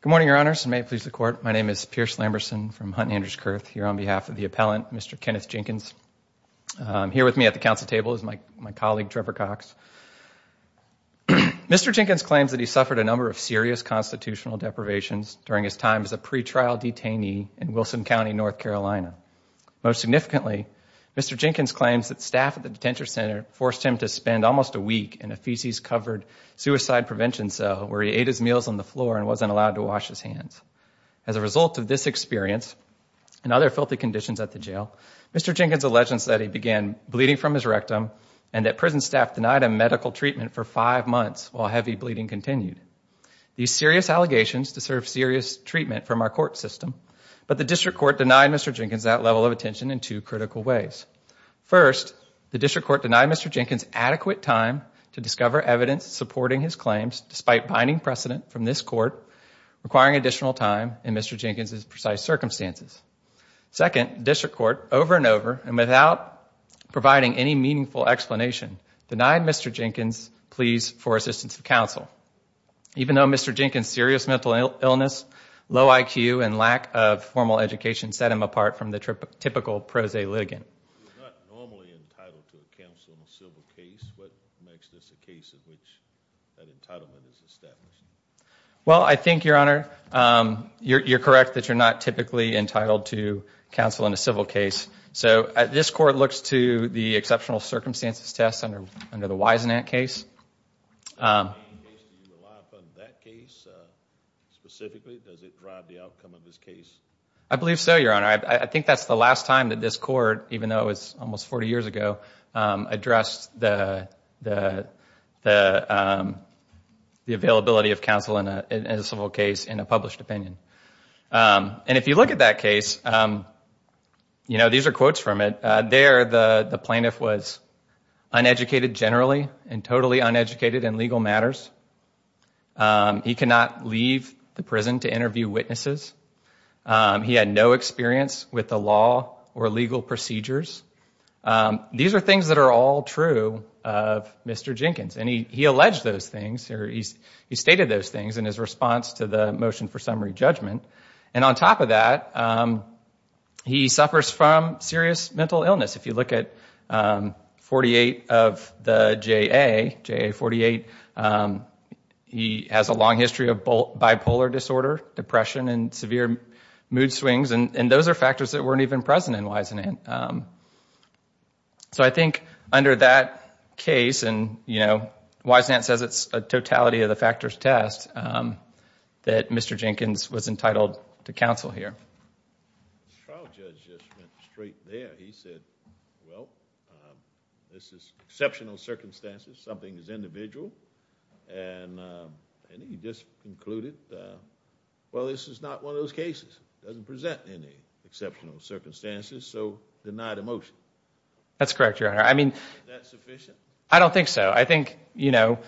Good morning, Your Honors. May it please the Court. My name is Pierce Lamberson from Hunt and Andrews Kurth here on behalf of the appellant, Mr. Kenneth Jenkins. Here with me at the Council table is my colleague, Trevor Cox. Mr. Jenkins claims that he suffered a number of serious constitutional deprivations during his time as a pretrial detainee in Wilson County, North Carolina. Most significantly, Mr. Jenkins claims that staff at the detention center forced him to spend almost a week in a feces-covered suicide prevention cell where he ate his meals on the floor and wasn't allowed to wash his hands. As a result of this experience and other filthy conditions at the jail, Mr. Jenkins alleges that he began bleeding from his rectum and that prison staff denied him medical treatment for five months while heavy bleeding continued. These serious allegations deserve serious treatment from our court system, but the District Court denied Mr. Jenkins that level of attention in two critical ways. First, the District Court denied Mr. Jenkins adequate time to discover evidence supporting his claims despite binding precedent from this Court requiring additional time in Mr. Jenkins' precise circumstances. Second, District Court, over and over and without providing any meaningful explanation, denied Mr. Jenkins pleas for assistance to counsel. Even though Mr. Jenkins' serious mental illness, low IQ, and lack of formal education set him apart from the typical prose litigant. You're not normally entitled to counsel in a civil case. What makes this a case in which that entitlement is established? Well, I think, Your Honor, you're correct that you're not typically entitled to counsel in a civil case. So, this Court looks to the exceptional circumstances test under the Wisenant case. In any case, do you rely upon that case specifically? Does it drive the outcome of this case? I believe so, Your Honor. I think that's the last time that this Court, even though it was almost 40 years ago, addressed the availability of counsel in a civil case in a published opinion. And if you look at that case, you know, these are quotes from it. There, the plaintiff was uneducated generally and totally uneducated in legal matters. He could not leave the prison to interview witnesses. He had no experience with the law or legal procedures. These are things that are all true of Mr. Jenkins. And he alleged those things, or he stated those things in his response to the motion for summary judgment. And on top of that, he suffers from serious mental illness. If you look at 48 of the JA, JA 48, he has a long history of bipolar disorder, depression, and severe mood swings. And those are factors that weren't even present in Wisenant. So I think under that case, and you know, Wisenant says it's a totality of the factors test, that Mr. Jenkins was entitled to counsel here. The trial judge just went straight there. He said, well, this is exceptional circumstances. Something is individual. And he just concluded, well, this is not one of those cases. It doesn't present any exceptional circumstances. So deny the motion. That's correct, Your Honor. I mean, I don't think so. I think, you know,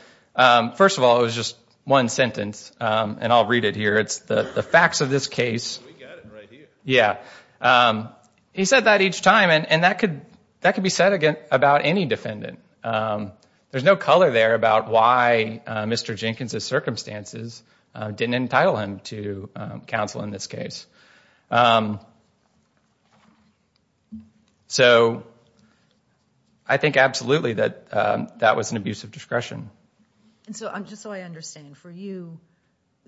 first of all, it was just one sentence. And I'll read it here. It's the facts of this case. We got it right here. Yeah. He said that each time. And that could be said about any defendant. There's no color there about why Mr. Jenkins' circumstances didn't entitle him to counsel in this case. So I think absolutely that that was an abuse of discretion. And so just so I understand, for you,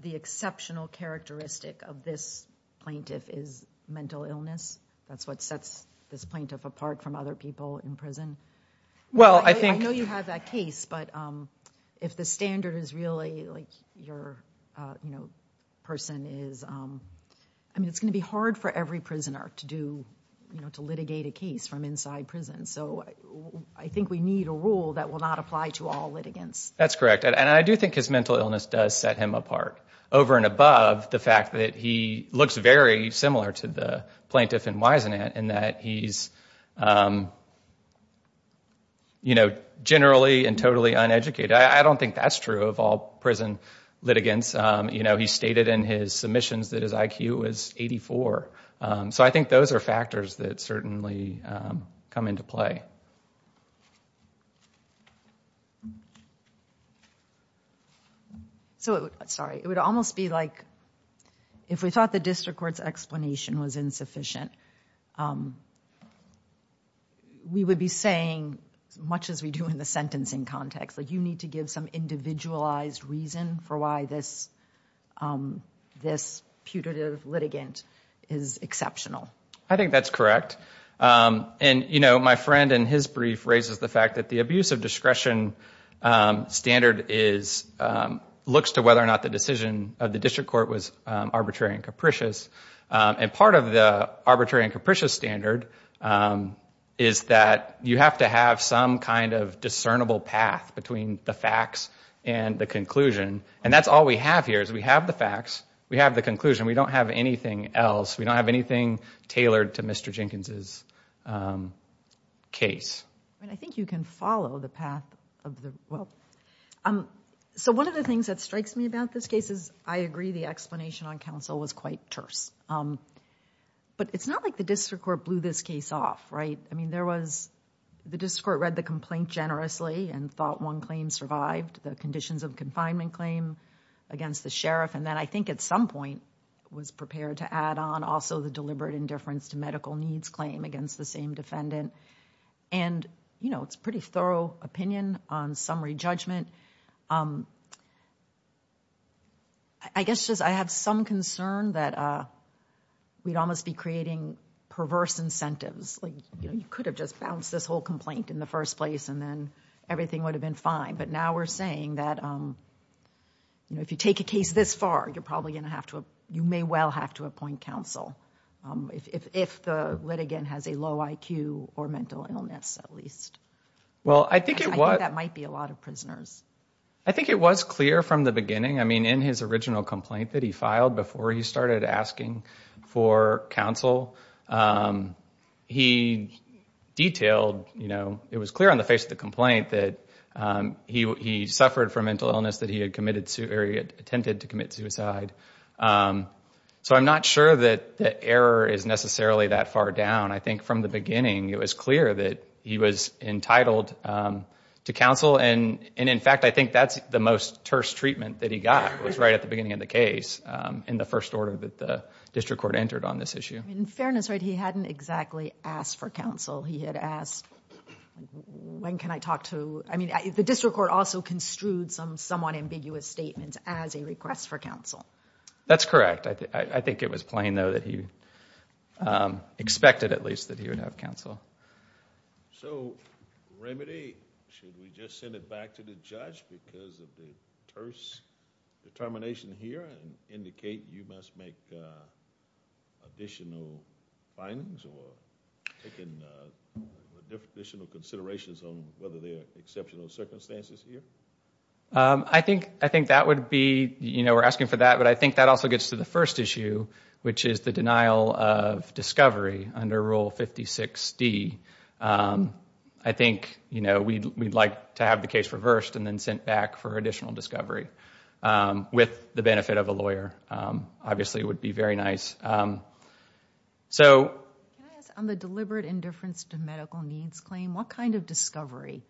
the exceptional characteristic of this plaintiff is mental illness? That's what sets this plaintiff apart from other people in prison? Well, I think... I know you have that case, but if the standard is really like your person is... I mean, it's going to be hard for every prisoner to do, you know, to litigate a case from inside prison. So I think we need a rule that will not apply to all litigants. That's correct. And I do think his mental illness does set him apart. Over and above the fact that he looks very similar to the you know, generally and totally uneducated. I don't think that's true of all prison litigants. You know, he stated in his submissions that his IQ was 84. So I think those are factors that certainly come into play. So, sorry, it would almost be like if we thought the district court's explanation was insufficient, we would be saying, as much as we do in the sentencing context, like you need to give some individualized reason for why this putative litigant is exceptional. I think that's correct. And, you know, my friend in his brief raises the fact that the abuse of discretion standard is... looks to whether or not the decision of the district court was arbitrary and capricious. And part of the arbitrary and capricious standard is that you have to have some kind of discernible path between the facts and the conclusion. And that's all we have here is we have the facts, we have the conclusion. We don't have anything else. We don't have anything tailored to Mr. Jenkins' case. So one of the things that strikes me about this case is, I agree the explanation on counsel was quite terse. But it's not like the district court blew this case off, right? I mean, there was... the district court read the complaint generously and thought one claim survived, the conditions of confinement claim against the sheriff, and then I think at some point was prepared to add on also the deliberate indifference to medical needs claim against the same defendant. And, you know, it's pretty thorough opinion on summary judgment. I guess just I have some concern that we'd almost be creating perverse incentives. Like, you know, you could have just bounced this whole complaint in the first place and then everything would have been fine. But now we're saying that, you know, if you take a case this far, you're probably going to have to... you may well have to appoint counsel if the litigant has a low IQ or mental illness, at least. Well, I think it was... I think that might be a lot of prisoners. I think it was clear from the beginning. I mean, in his original complaint that he filed before he started asking for counsel, he detailed, you know, it was clear on the face of the complaint that he suffered from mental illness, that he had attempted to commit suicide. So I'm not sure that the error is necessarily that far down. I think from the beginning, it was clear that he was entitled to counsel. And, in fact, I think that's the most terse treatment that he got was right at the beginning of the case in the first order that the district court entered on this issue. In fairness, he hadn't exactly asked for counsel. He had asked, when can I talk to... I mean, the district court also construed some somewhat ambiguous statements as a request for counsel. That's correct. I think it was plain, though, that he expected, at least, that he would have counsel. So remedy, should we just send it back to the judge because of the terse determination here and indicate you must make additional findings or take additional considerations on whether there are exceptional circumstances here? I think that would be... You know, we're asking for that, but I think that also gets to the first issue, which is the denial of discovery under Rule 56D. I think, you know, we'd like to have the case reversed and then sent back for additional discovery with the benefit of a lawyer. Obviously, it would be very nice. So... Can I ask, on the deliberate indifference to medical needs claim, what kind of discovery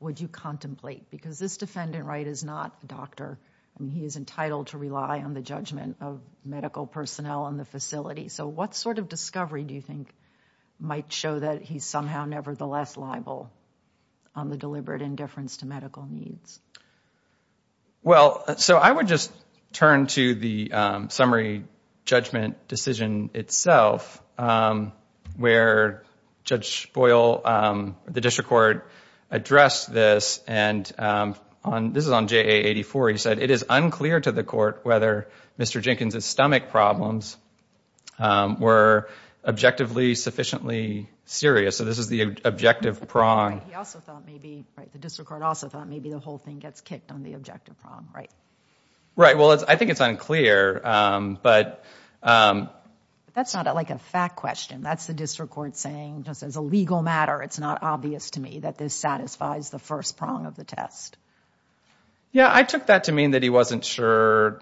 would you contemplate? Because this defendant, right, is not a doctor, and he is entitled to rely on the judgment of medical personnel in the facility. So what sort of discovery do you think might show that he's somehow nevertheless liable on the deliberate indifference to medical needs? Well, so I would just turn to the summary judgment decision itself, where Judge Boyle, the district court, addressed this, and this is on JA-84. He said, it is unclear to the court whether Mr. Jenkins' stomach problems were objectively sufficiently serious. So this is the objective prong. He also thought maybe, right, the district court also thought maybe the whole thing gets kicked on the objective prong, right? Right, well, I think it's unclear, but... That's not, like, a fact question. That's the district court saying, just as a legal matter, it's not obvious to me that this satisfies the first prong of the test. Yeah, I took that to mean that he wasn't sure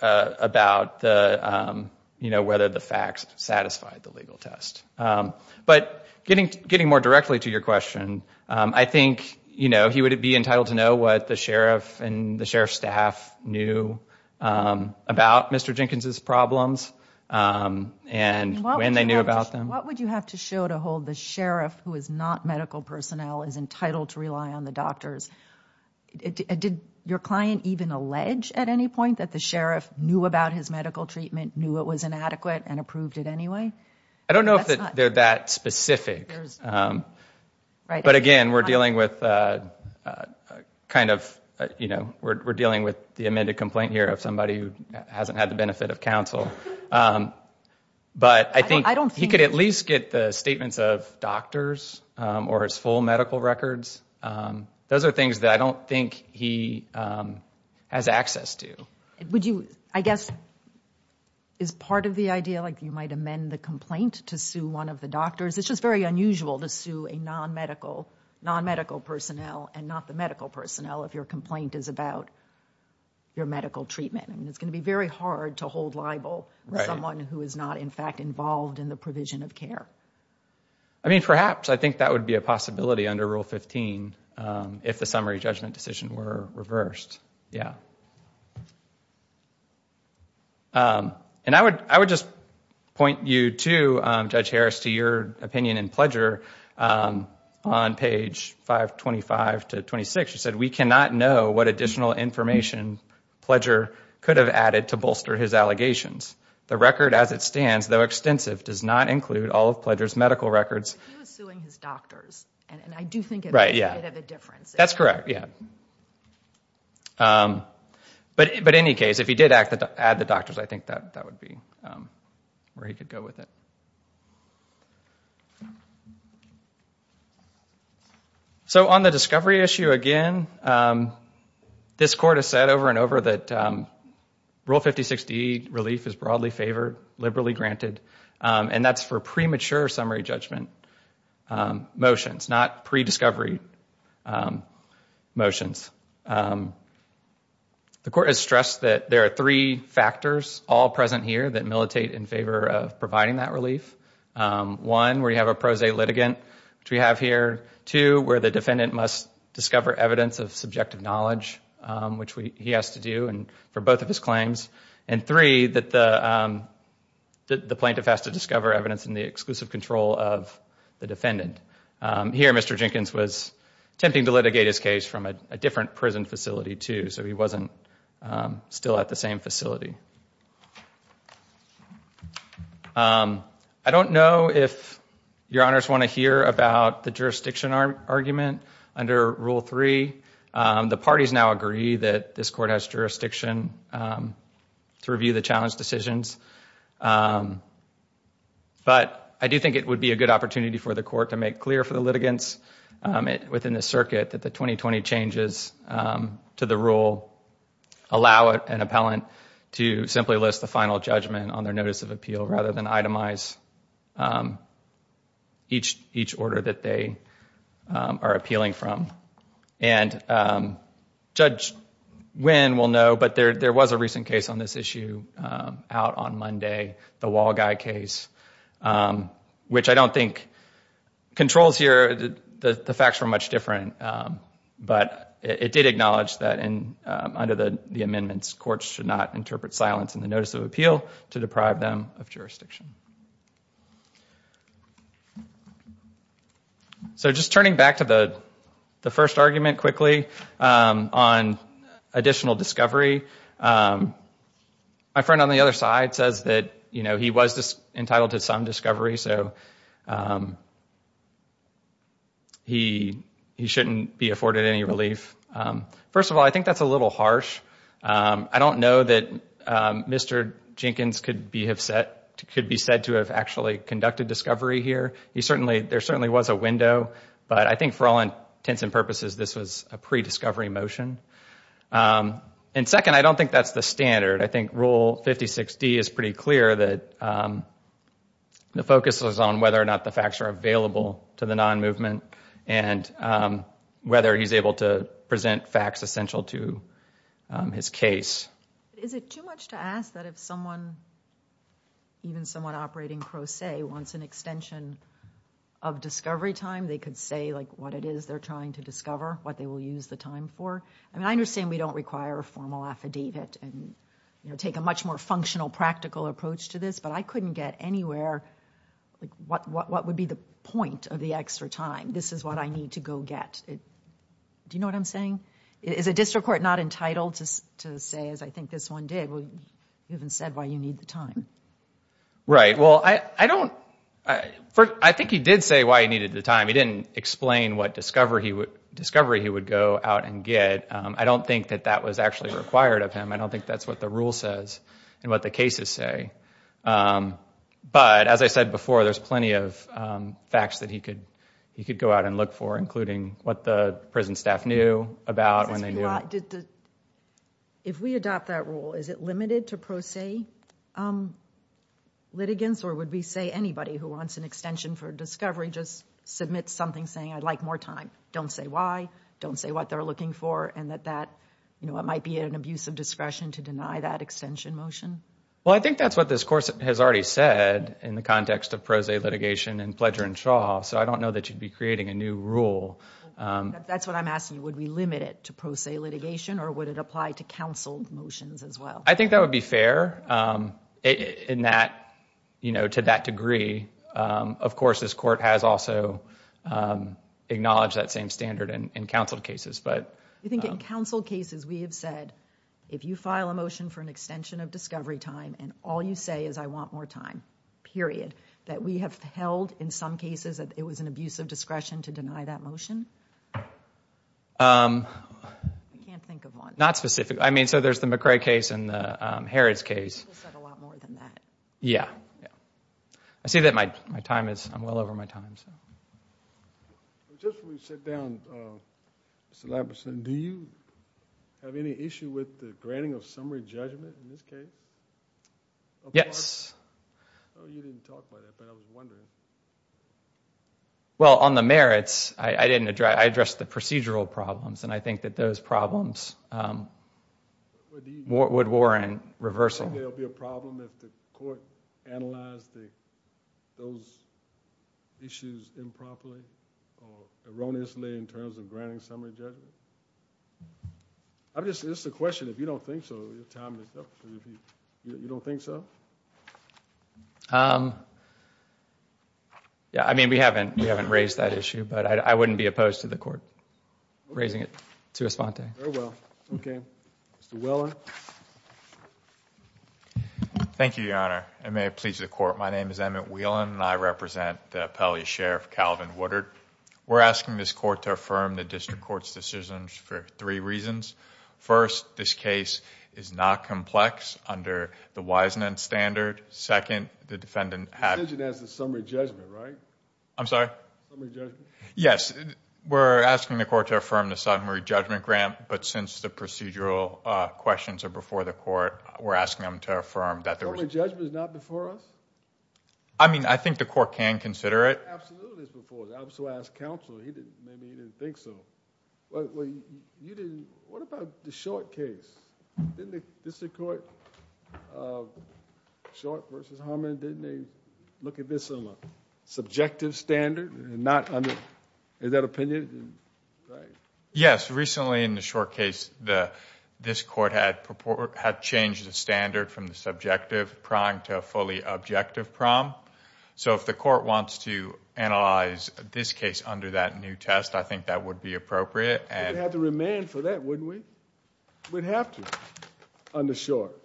about whether the facts satisfied the legal test. But getting more directly to your question, I think, you know, he would be entitled to know what the sheriff and the sheriff's staff knew about Mr. Jenkins' problems and when they knew about them. What would you have to show to hold the sheriff, who is not medical personnel, is entitled to rely on the doctors? Did your client even allege at any point that the sheriff knew about his medical treatment, knew it was inadequate and approved it anyway? I don't know if they're that specific. But again, we're dealing with kind of, you know, we're dealing with the amended complaint here of somebody who hasn't had the benefit of counsel. But I think he could at least get the statements of doctors or his full medical records. Those are things that I don't think he has access to. Would you, I guess, is part of the idea, I feel like you might amend the complaint to sue one of the doctors. It's just very unusual to sue a non-medical personnel and not the medical personnel if your complaint is about your medical treatment. I mean, it's going to be very hard to hold libel with someone who is not, in fact, involved in the provision of care. I mean, perhaps. I think that would be a possibility under Rule 15 if the summary judgment decision were reversed, yeah. And I would just point you to, Judge Harris, to your opinion in Pledger on page 525 to 26. You said, We cannot know what additional information Pledger could have added to bolster his allegations. The record as it stands, though extensive, does not include all of Pledger's medical records. He was suing his doctors, and I do think it made a difference. That's correct, yeah. But in any case, if he did add the doctors, I think that would be where he could go with it. So on the discovery issue again, this Court has said over and over that Rule 5060 relief is broadly favored, liberally granted, and that's for premature summary judgment motions, not pre-discovery motions. The Court has stressed that there are three factors all present here that militate in favor of providing that relief. One, where you have a pro se litigant, which we have here. Two, where the defendant must discover evidence of subjective knowledge, which he has to do for both of his claims. And three, that the plaintiff has to discover evidence in the exclusive control of the defendant. Here, Mr. Jenkins was attempting to litigate his case from a different prison facility, too, so he wasn't still at the same facility. I don't know if Your Honors want to hear about the jurisdiction argument under Rule 3. The parties now agree that this Court has jurisdiction to review the challenge decisions. But I do think it would be a good opportunity for the Court to make clear for the litigants within the circuit that the 2020 changes to the Rule allow an appellant to simply list the final judgment on their notice of appeal rather than itemize each order that they are appealing from. And Judge Wynn will know, but there was a recent case on this issue out on Monday, the Wall Guy case, which I don't think controls here. The facts were much different. But it did acknowledge that under the amendments, courts should not interpret silence in the notice of appeal to deprive them of jurisdiction. So just turning back to the first argument quickly on additional discovery, my friend on the other side says that he was entitled to some discovery, so he shouldn't be afforded any relief. First of all, I think that's a little harsh. I don't know that Mr. Jenkins could be said to have actually conducted discovery here. There certainly was a window, but I think for all intents and purposes this was a pre-discovery motion. And second, I don't think that's the standard. I think Rule 56D is pretty clear that the focus was on whether or not the facts are available to the non-movement and whether he's able to present facts essential to his case. Is it too much to ask that if someone, even someone operating pro se, wants an extension of discovery time, they could say what it is they're trying to discover, what they will use the time for? I mean, I understand we don't require a formal affidavit and take a much more functional, practical approach to this, but I couldn't get anywhere, what would be the point of the extra time? This is what I need to go get. Do you know what I'm saying? Is a district court not entitled to say, as I think this one did, you haven't said why you need the time? Right, well, I don't... I think he did say why he needed the time. He didn't explain what discovery he would go out and get. I don't think that that was actually required of him. I don't think that's what the rule says and what the cases say. But as I said before, there's plenty of facts that he could go out and look for, including what the prison staff knew about when they knew... If we adopt that rule, is it limited to pro se litigants or would we say anybody who wants an extension for discovery just submits something saying, I'd like more time, don't say why, don't say what they're looking for, and that that might be an abuse of discretion to deny that extension motion? Well, I think that's what this course has already said in the context of pro se litigation and Pledger and Shaw, so I don't know that you'd be creating a new rule. That's what I'm asking. Would we limit it to pro se litigation or would it apply to counsel motions as well? I think that would be fair to that degree. Of course, this court has also acknowledged that same standard in counsel cases, but... You think in counsel cases we have said, if you file a motion for an extension of discovery time and all you say is, I want more time, period, that we have held in some cases that it was an abuse of discretion to deny that motion? I can't think of one. Not specific, I mean, so there's the McRae case and the Harrods case. You said a lot more than that. Yeah, yeah. I see that my time is, I'm well over my time, so... Just when we sit down, Mr. Lamperson, do you have any issue with the granting of summary judgment in this case? Yes. Oh, you didn't talk about it, but I was wondering. Well, on the merits, I addressed the procedural problems and I think that those problems would warrant reversal. Would there be a problem if the court analyzed those issues improperly or erroneously in terms of granting summary judgment? This is a question. If you don't think so, your time is up. You don't think so? Yeah, I mean, we haven't raised that issue, but I wouldn't be opposed to the court raising it to a sponte. Very well, okay. Mr. Whelan. Thank you, Your Honor, and may it please the court. My name is Emmett Whelan and I represent the appellee sheriff, Calvin Woodard. We're asking this court to affirm the district court's decisions for three reasons. First, this case is not complex under the Wiseman standard. Second, the defendant had... The decision has the summary judgment, right? I'm sorry? Summary judgment. Yes. We're asking the court to affirm the summary judgment grant, but since the procedural questions are before the court, we're asking them to affirm that there was... Summary judgment is not before us? I mean, I think the court can consider it. Absolutely it's before us. I also asked counsel. Maybe he didn't think so. Well, you didn't... What about the Short case? Didn't the district court, Short v. Harmon, didn't they look at this on a subjective standard? Is that opinion? Yes. Recently in the Short case, this court had changed the standard from the subjective prong to a fully objective prong. So if the court wants to analyze this case under that new test, I think that would be appropriate. We'd have to remand for that, wouldn't we? We'd have to on the Short.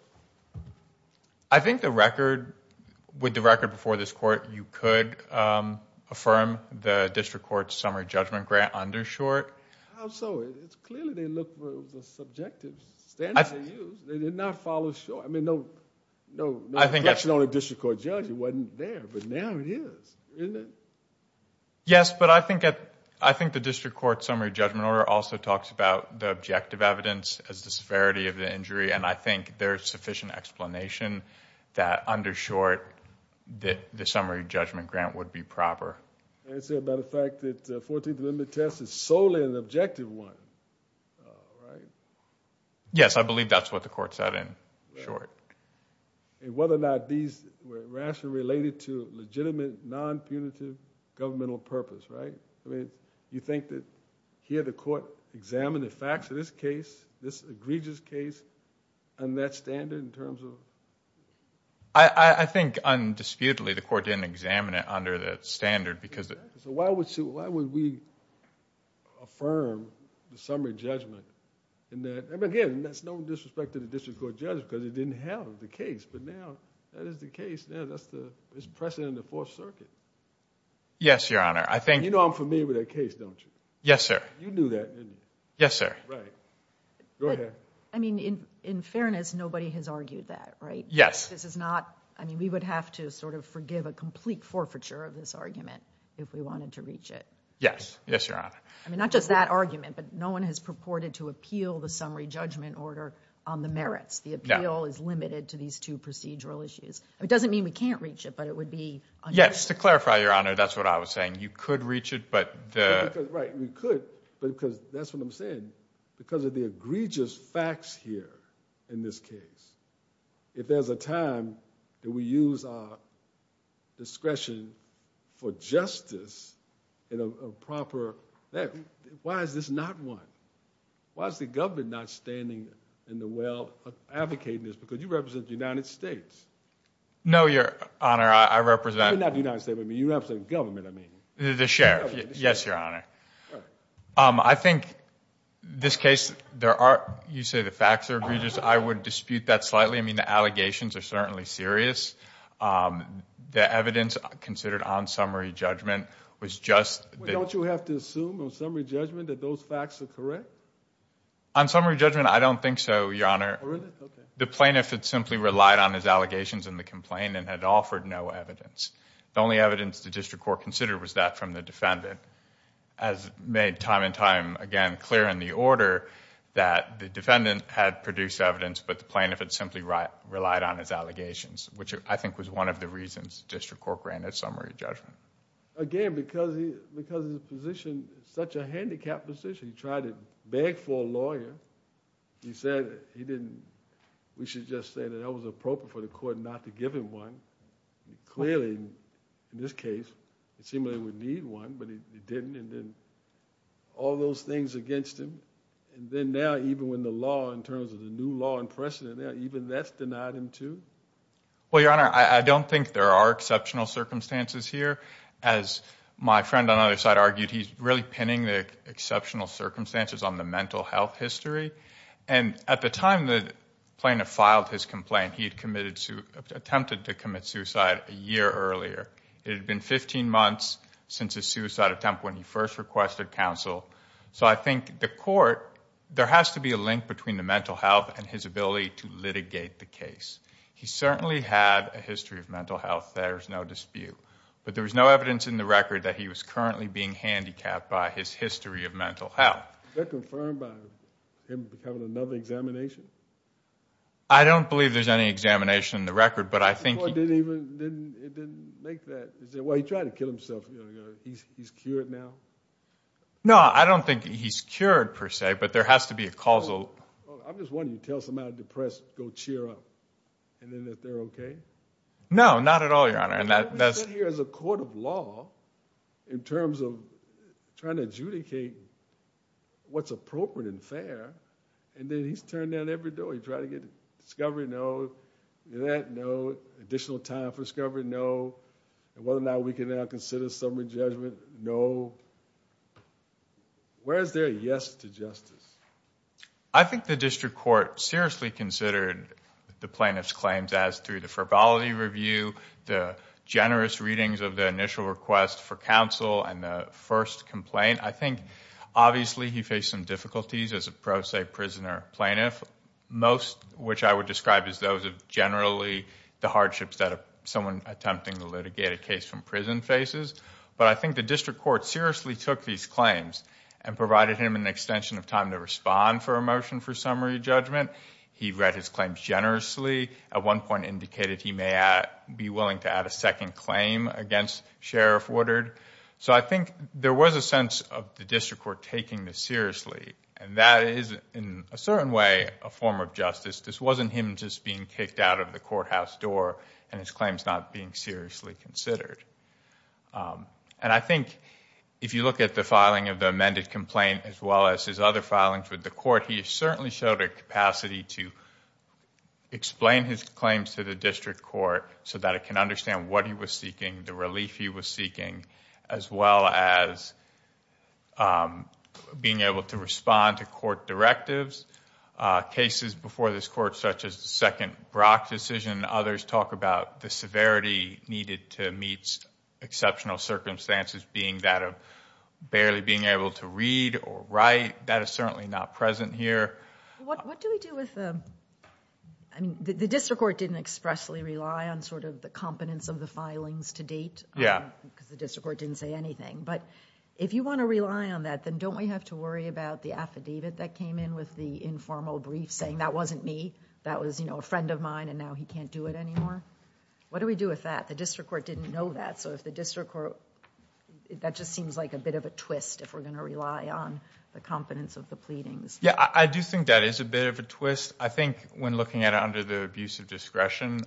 I think with the record before this court, you could affirm the district court's summary judgment grant under Short. How so? Clearly they looked for the subjective standard they used. They did not follow Short. I mean, no question on a district court judge. It wasn't there, but now it is, isn't it? Yes, but I think the district court's summary judgment order also talks about the objective evidence as the severity of the injury, and I think there's sufficient explanation that under Short, the summary judgment grant would be proper. As a matter of fact, the 14th Amendment test is solely an objective one, right? Yes, I believe that's what the court said in Short. Whether or not these were rationally related to legitimate, non-punitive governmental purpose, right? You think that here the court examined the facts of this case, this egregious case, and that standard in terms of? I think undisputedly the court didn't examine it under that standard. Why would we affirm the summary judgment? Again, that's no disrespect to the district court judge because it didn't have the case, but now that is the case. It's precedent in the Fourth Circuit. Yes, Your Honor. You know I'm familiar with that case, don't you? Yes, sir. You knew that, didn't you? Yes, sir. Right. Go ahead. I mean, in fairness, nobody has argued that, right? Yes. This is not – I mean, we would have to sort of forgive a complete forfeiture of this argument if we wanted to reach it. Yes. Yes, Your Honor. I mean, not just that argument, but no one has purported to appeal the summary judgment order on the merits. The appeal is limited to these two procedural issues. It doesn't mean we can't reach it, but it would be – Yes, to clarify, Your Honor, that's what I was saying. You could reach it, but the – Right, we could, because that's what I'm saying. Because of the egregious facts here in this case, if there's a time that we use our discretion for justice in a proper – why is this not one? Why is the government not standing in the well advocating this? Because you represent the United States. No, Your Honor, I represent – You're not the United States. You represent the government, I mean. The sheriff. Yes, Your Honor. I think this case, there are – you say the facts are egregious. I would dispute that slightly. I mean, the allegations are certainly serious. The evidence considered on summary judgment was just – Don't you have to assume on summary judgment that those facts are correct? On summary judgment, I don't think so, Your Honor. The plaintiff had simply relied on his allegations in the complaint and had offered no evidence. The only evidence the district court considered was that from the defendant. As made time and time again clear in the order, that the defendant had produced evidence, but the plaintiff had simply relied on his allegations, which I think was one of the reasons the district court granted summary judgment. Again, because his position is such a handicapped position, he tried to beg for a lawyer. He said he didn't – we should just say that it was appropriate for the court not to give him one. Clearly, in this case, it seemed like he would need one, but he didn't. And then all those things against him, and then now even when the law in terms of the new law in precedent, even that's denied him too? Well, Your Honor, I don't think there are exceptional circumstances here. As my friend on the other side argued, he's really pinning the exceptional circumstances on the mental health history. And at the time the plaintiff filed his complaint, he had attempted to commit suicide a year earlier. It had been 15 months since his suicide attempt when he first requested counsel. So I think the court – there has to be a link between the mental health and his ability to litigate the case. He certainly had a history of mental health. There's no dispute. But there was no evidence in the record that he was currently being handicapped by his history of mental health. Is that confirmed by him becoming another examination? I don't believe there's any examination in the record, but I think he – The court didn't even – it didn't make that – well, he tried to kill himself a year ago. He's cured now? No, I don't think he's cured per se, but there has to be a causal – I'm just wondering, you tell somebody depressed, go cheer up, and then that they're okay? No, not at all, Your Honor. We're sitting here as a court of law in terms of trying to adjudicate what's appropriate and fair, and then he's turned down every door. He tried to get discovery? No. In that? No. Additional time for discovery? No. Whether or not we can now consider summary judgment? No. Where is there a yes to justice? I think the district court seriously considered the plaintiff's claims as through the frivolity review, the generous readings of the initial request for counsel, and the first complaint. I think obviously he faced some difficulties as a pro se prisoner plaintiff, most of which I would describe as those of generally the hardships that someone attempting to litigate a case from prison faces. But I think the district court seriously took these claims and provided him an extension of time to respond for a motion for summary judgment. He read his claims generously, at one point indicated he may be willing to add a second claim against Sheriff Woodard. I think there was a sense of the district court taking this seriously, and that is in a certain way a form of justice. This wasn't him just being kicked out of the courthouse door and his claims not being seriously considered. I think if you look at the filing of the amended complaint as well as his other filings with the court, he certainly showed a capacity to explain his claims to the district court so that it can understand what he was seeking, the relief he was seeking, as well as being able to respond to court directives. Cases before this court such as the second Brock decision, others talk about the severity needed to meet exceptional circumstances being that of barely being able to read or write. That is certainly not present here. What do we do with the, I mean, the district court didn't expressly rely on sort of the competence of the filings to date. Yeah. Because the district court didn't say anything. But if you want to rely on that, then don't we have to worry about the affidavit that came in with the informal brief saying that wasn't me, that was a friend of mine and now he can't do it anymore? What do we do with that? The district court didn't know that, so if the district court, that just seems like a bit of a twist if we're going to rely on the competence of the pleadings. Yeah, I do think that is a bit of a twist. I think when looking at it under the abuse of discretion,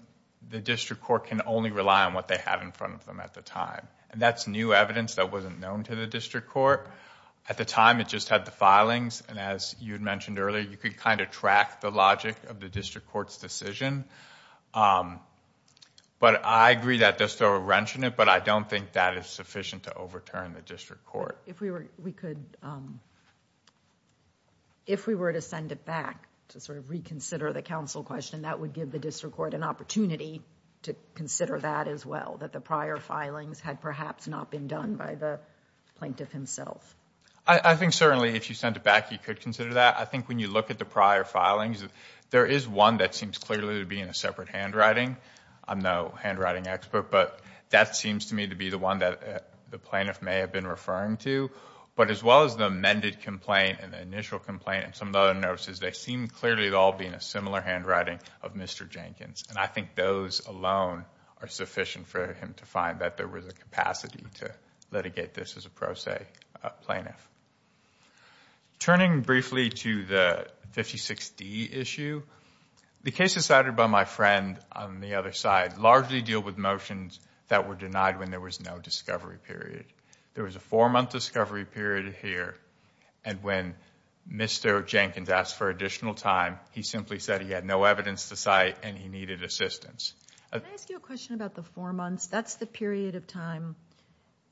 the district court can only rely on what they had in front of them at the time. And that's new evidence that wasn't known to the district court. At the time, it just had the filings. And as you had mentioned earlier, you could kind of track the logic of the district court's decision. But I agree that there's still a wrench in it, but I don't think that is sufficient to overturn the district court. If we were to send it back to sort of reconsider the counsel question, that would give the district court an opportunity to consider that as well, that the prior filings had perhaps not been done by the plaintiff himself. I think certainly if you sent it back, you could consider that. I think when you look at the prior filings, there is one that seems clearly to be in a separate handwriting. I'm no handwriting expert, but that seems to me to be the one that the plaintiff may have been referring to. But as well as the amended complaint and the initial complaint and some of the other notices, they seem clearly to all be in a similar handwriting of Mr. Jenkins. And I think those alone are sufficient for him to find that there was a capacity to litigate this as a pro se plaintiff. Turning briefly to the 56D issue, the cases cited by my friend on the other side largely deal with motions that were denied when there was no discovery period. There was a four-month discovery period here, and when Mr. Jenkins asked for additional time, he simply said he had no evidence to cite and he needed assistance. Can I ask you a question about the four months? That's the period of time,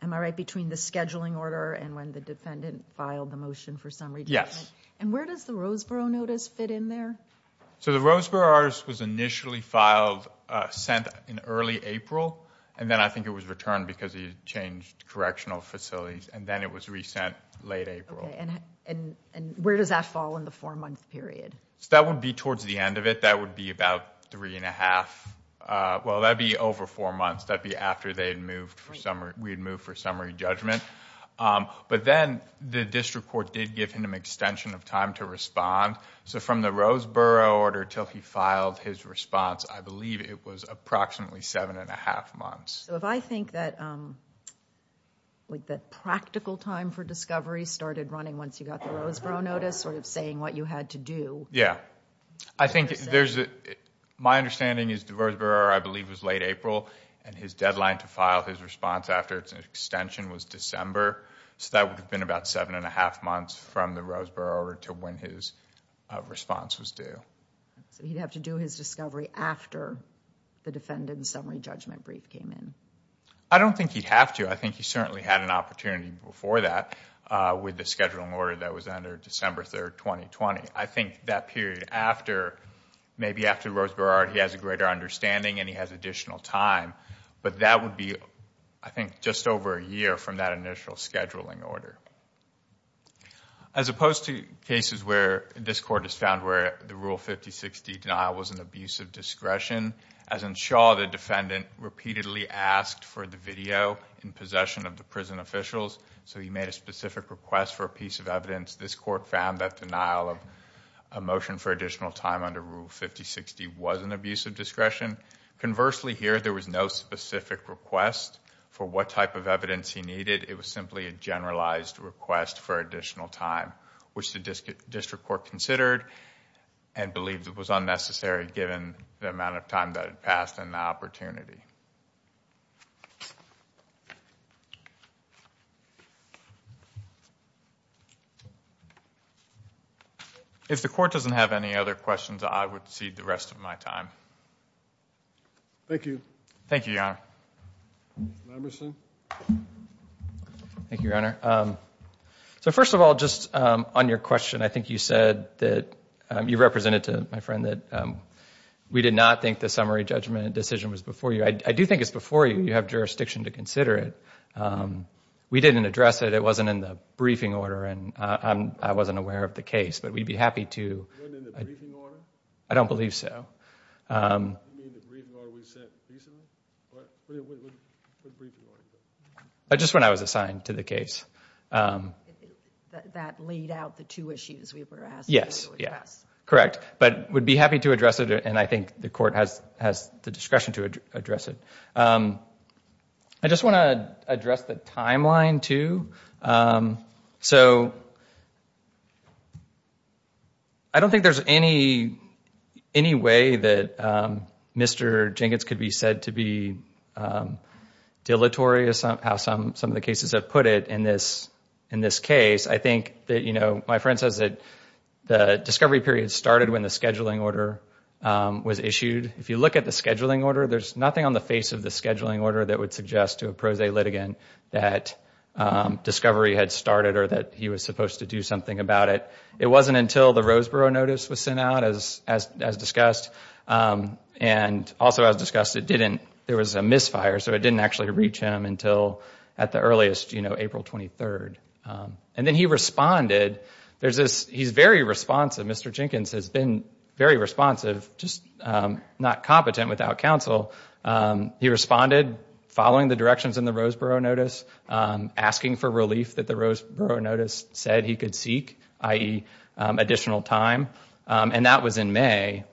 am I right, between the scheduling order and when the defendant filed the motion for summary judgment? Yes. And where does the Roseboro notice fit in there? So the Roseboro notice was initially filed, sent in early April, and then I think it was returned because he changed correctional facilities, and then it was resent late April. And where does that fall in the four-month period? That would be towards the end of it. That would be about three and a half. Well, that would be over four months. That would be after we had moved for summary judgment. But then the district court did give him an extension of time to respond. So from the Roseboro order until he filed his response, I believe it was approximately seven and a half months. So if I think that practical time for discovery started running once you got the Roseboro notice, sort of saying what you had to do. Yeah. My understanding is the Roseboro order, I believe, was late April, and his deadline to file his response after its extension was December. So that would have been about seven and a half months from the Roseboro order to when his response was due. So he'd have to do his discovery after the defendant's summary judgment brief came in. I don't think he'd have to. I think he certainly had an opportunity before that with the scheduling order that was under December 3, 2020. I think that period after, maybe after the Roseboro order, he has a greater understanding and he has additional time. But that would be, I think, just over a year from that initial scheduling order. As opposed to cases where this court has found where the Rule 5060 denial was an abuse of discretion, as in Shaw, the defendant repeatedly asked for the video in possession of the prison officials. So he made a specific request for a piece of evidence. This court found that denial of a motion for additional time under Rule 5060 was an abuse of discretion. Conversely, here, there was no specific request for what type of evidence he needed. It was simply a generalized request for additional time, which the district court considered and believed it was unnecessary given the amount of time that had passed and the opportunity. If the court doesn't have any other questions, I would cede the rest of my time. Thank you. Thank you, Your Honor. Mr. Lamberson. Thank you, Your Honor. So first of all, just on your question, I think you said that you represented to my friend that we did not think the summary judgment decision was before you. I do think it's before you. You have jurisdiction to consider it. We didn't address it. It wasn't in the briefing order, and I wasn't aware of the case. But we'd be happy to... It wasn't in the briefing order? I don't believe so. You mean the briefing order we sent recently? What briefing order? Just when I was assigned to the case. That laid out the two issues we were asked to address. Yes, correct. But we'd be happy to address it, and I think the court has the discretion to address it. I just want to address the timeline, too. So... I don't think there's any way that Mr. Jenkins could be said to be dilatory, as some of the cases have put it, in this case. I think that, you know, my friend says that the discovery period started when the scheduling order was issued. If you look at the scheduling order, there's nothing on the face of the scheduling order that would suggest to a pro se litigant that discovery had started or that he was supposed to do something about it. It wasn't until the Roseboro Notice was sent out, as discussed. And also, as discussed, it didn't... There was a misfire, so it didn't actually reach him until at the earliest, you know, April 23rd. And then he responded. He's very responsive. Mr. Jenkins has been very responsive, just not competent without counsel. He responded following the directions in the Roseboro Notice, asking for relief that the Roseboro Notice said he could seek, i.e., additional time. And that was in May.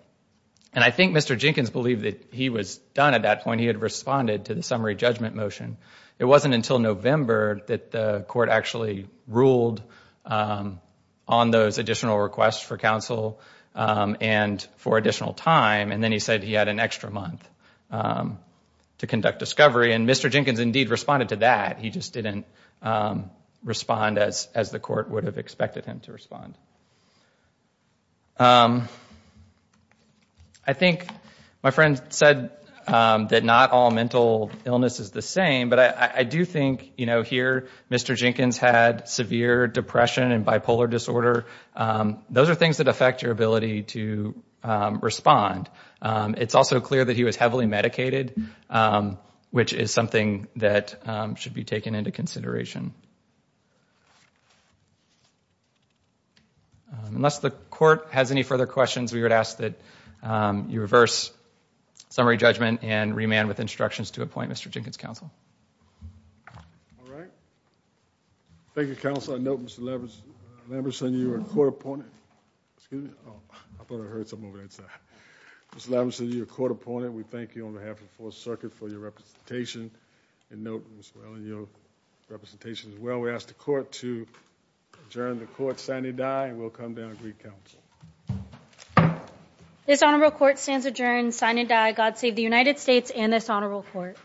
And I think Mr. Jenkins believed that he was done at that point. He had responded to the summary judgment motion. It wasn't until November that the court actually ruled on those additional requests for counsel and for additional time. And then he said he had an extra month to conduct discovery. And Mr. Jenkins, indeed, responded to that. He just didn't respond as the court would have expected him to respond. I think my friend said that not all mental illness is the same, but I do think, you know, here, Mr. Jenkins had severe depression and bipolar disorder. Those are things that affect your ability to respond. It's also clear that he was heavily medicated, which is something that should be taken into consideration. Unless the court has any further questions, we would ask that you reverse summary judgment and remand with instructions to appoint Mr. Jenkins counsel. All right. Thank you, counsel. I note, Mr. Lamberson, you are court-appointed. Excuse me. I thought I heard something over there. Mr. Lamberson, you are court-appointed. We thank you on behalf of the Fourth Circuit for your representation. I note, Ms. Whalen, your representation as well. We ask the court to adjourn the court, sign and die, and we'll come down and greet counsel. This honorable court stands adjourned, sign and die. God save the United States and this honorable court.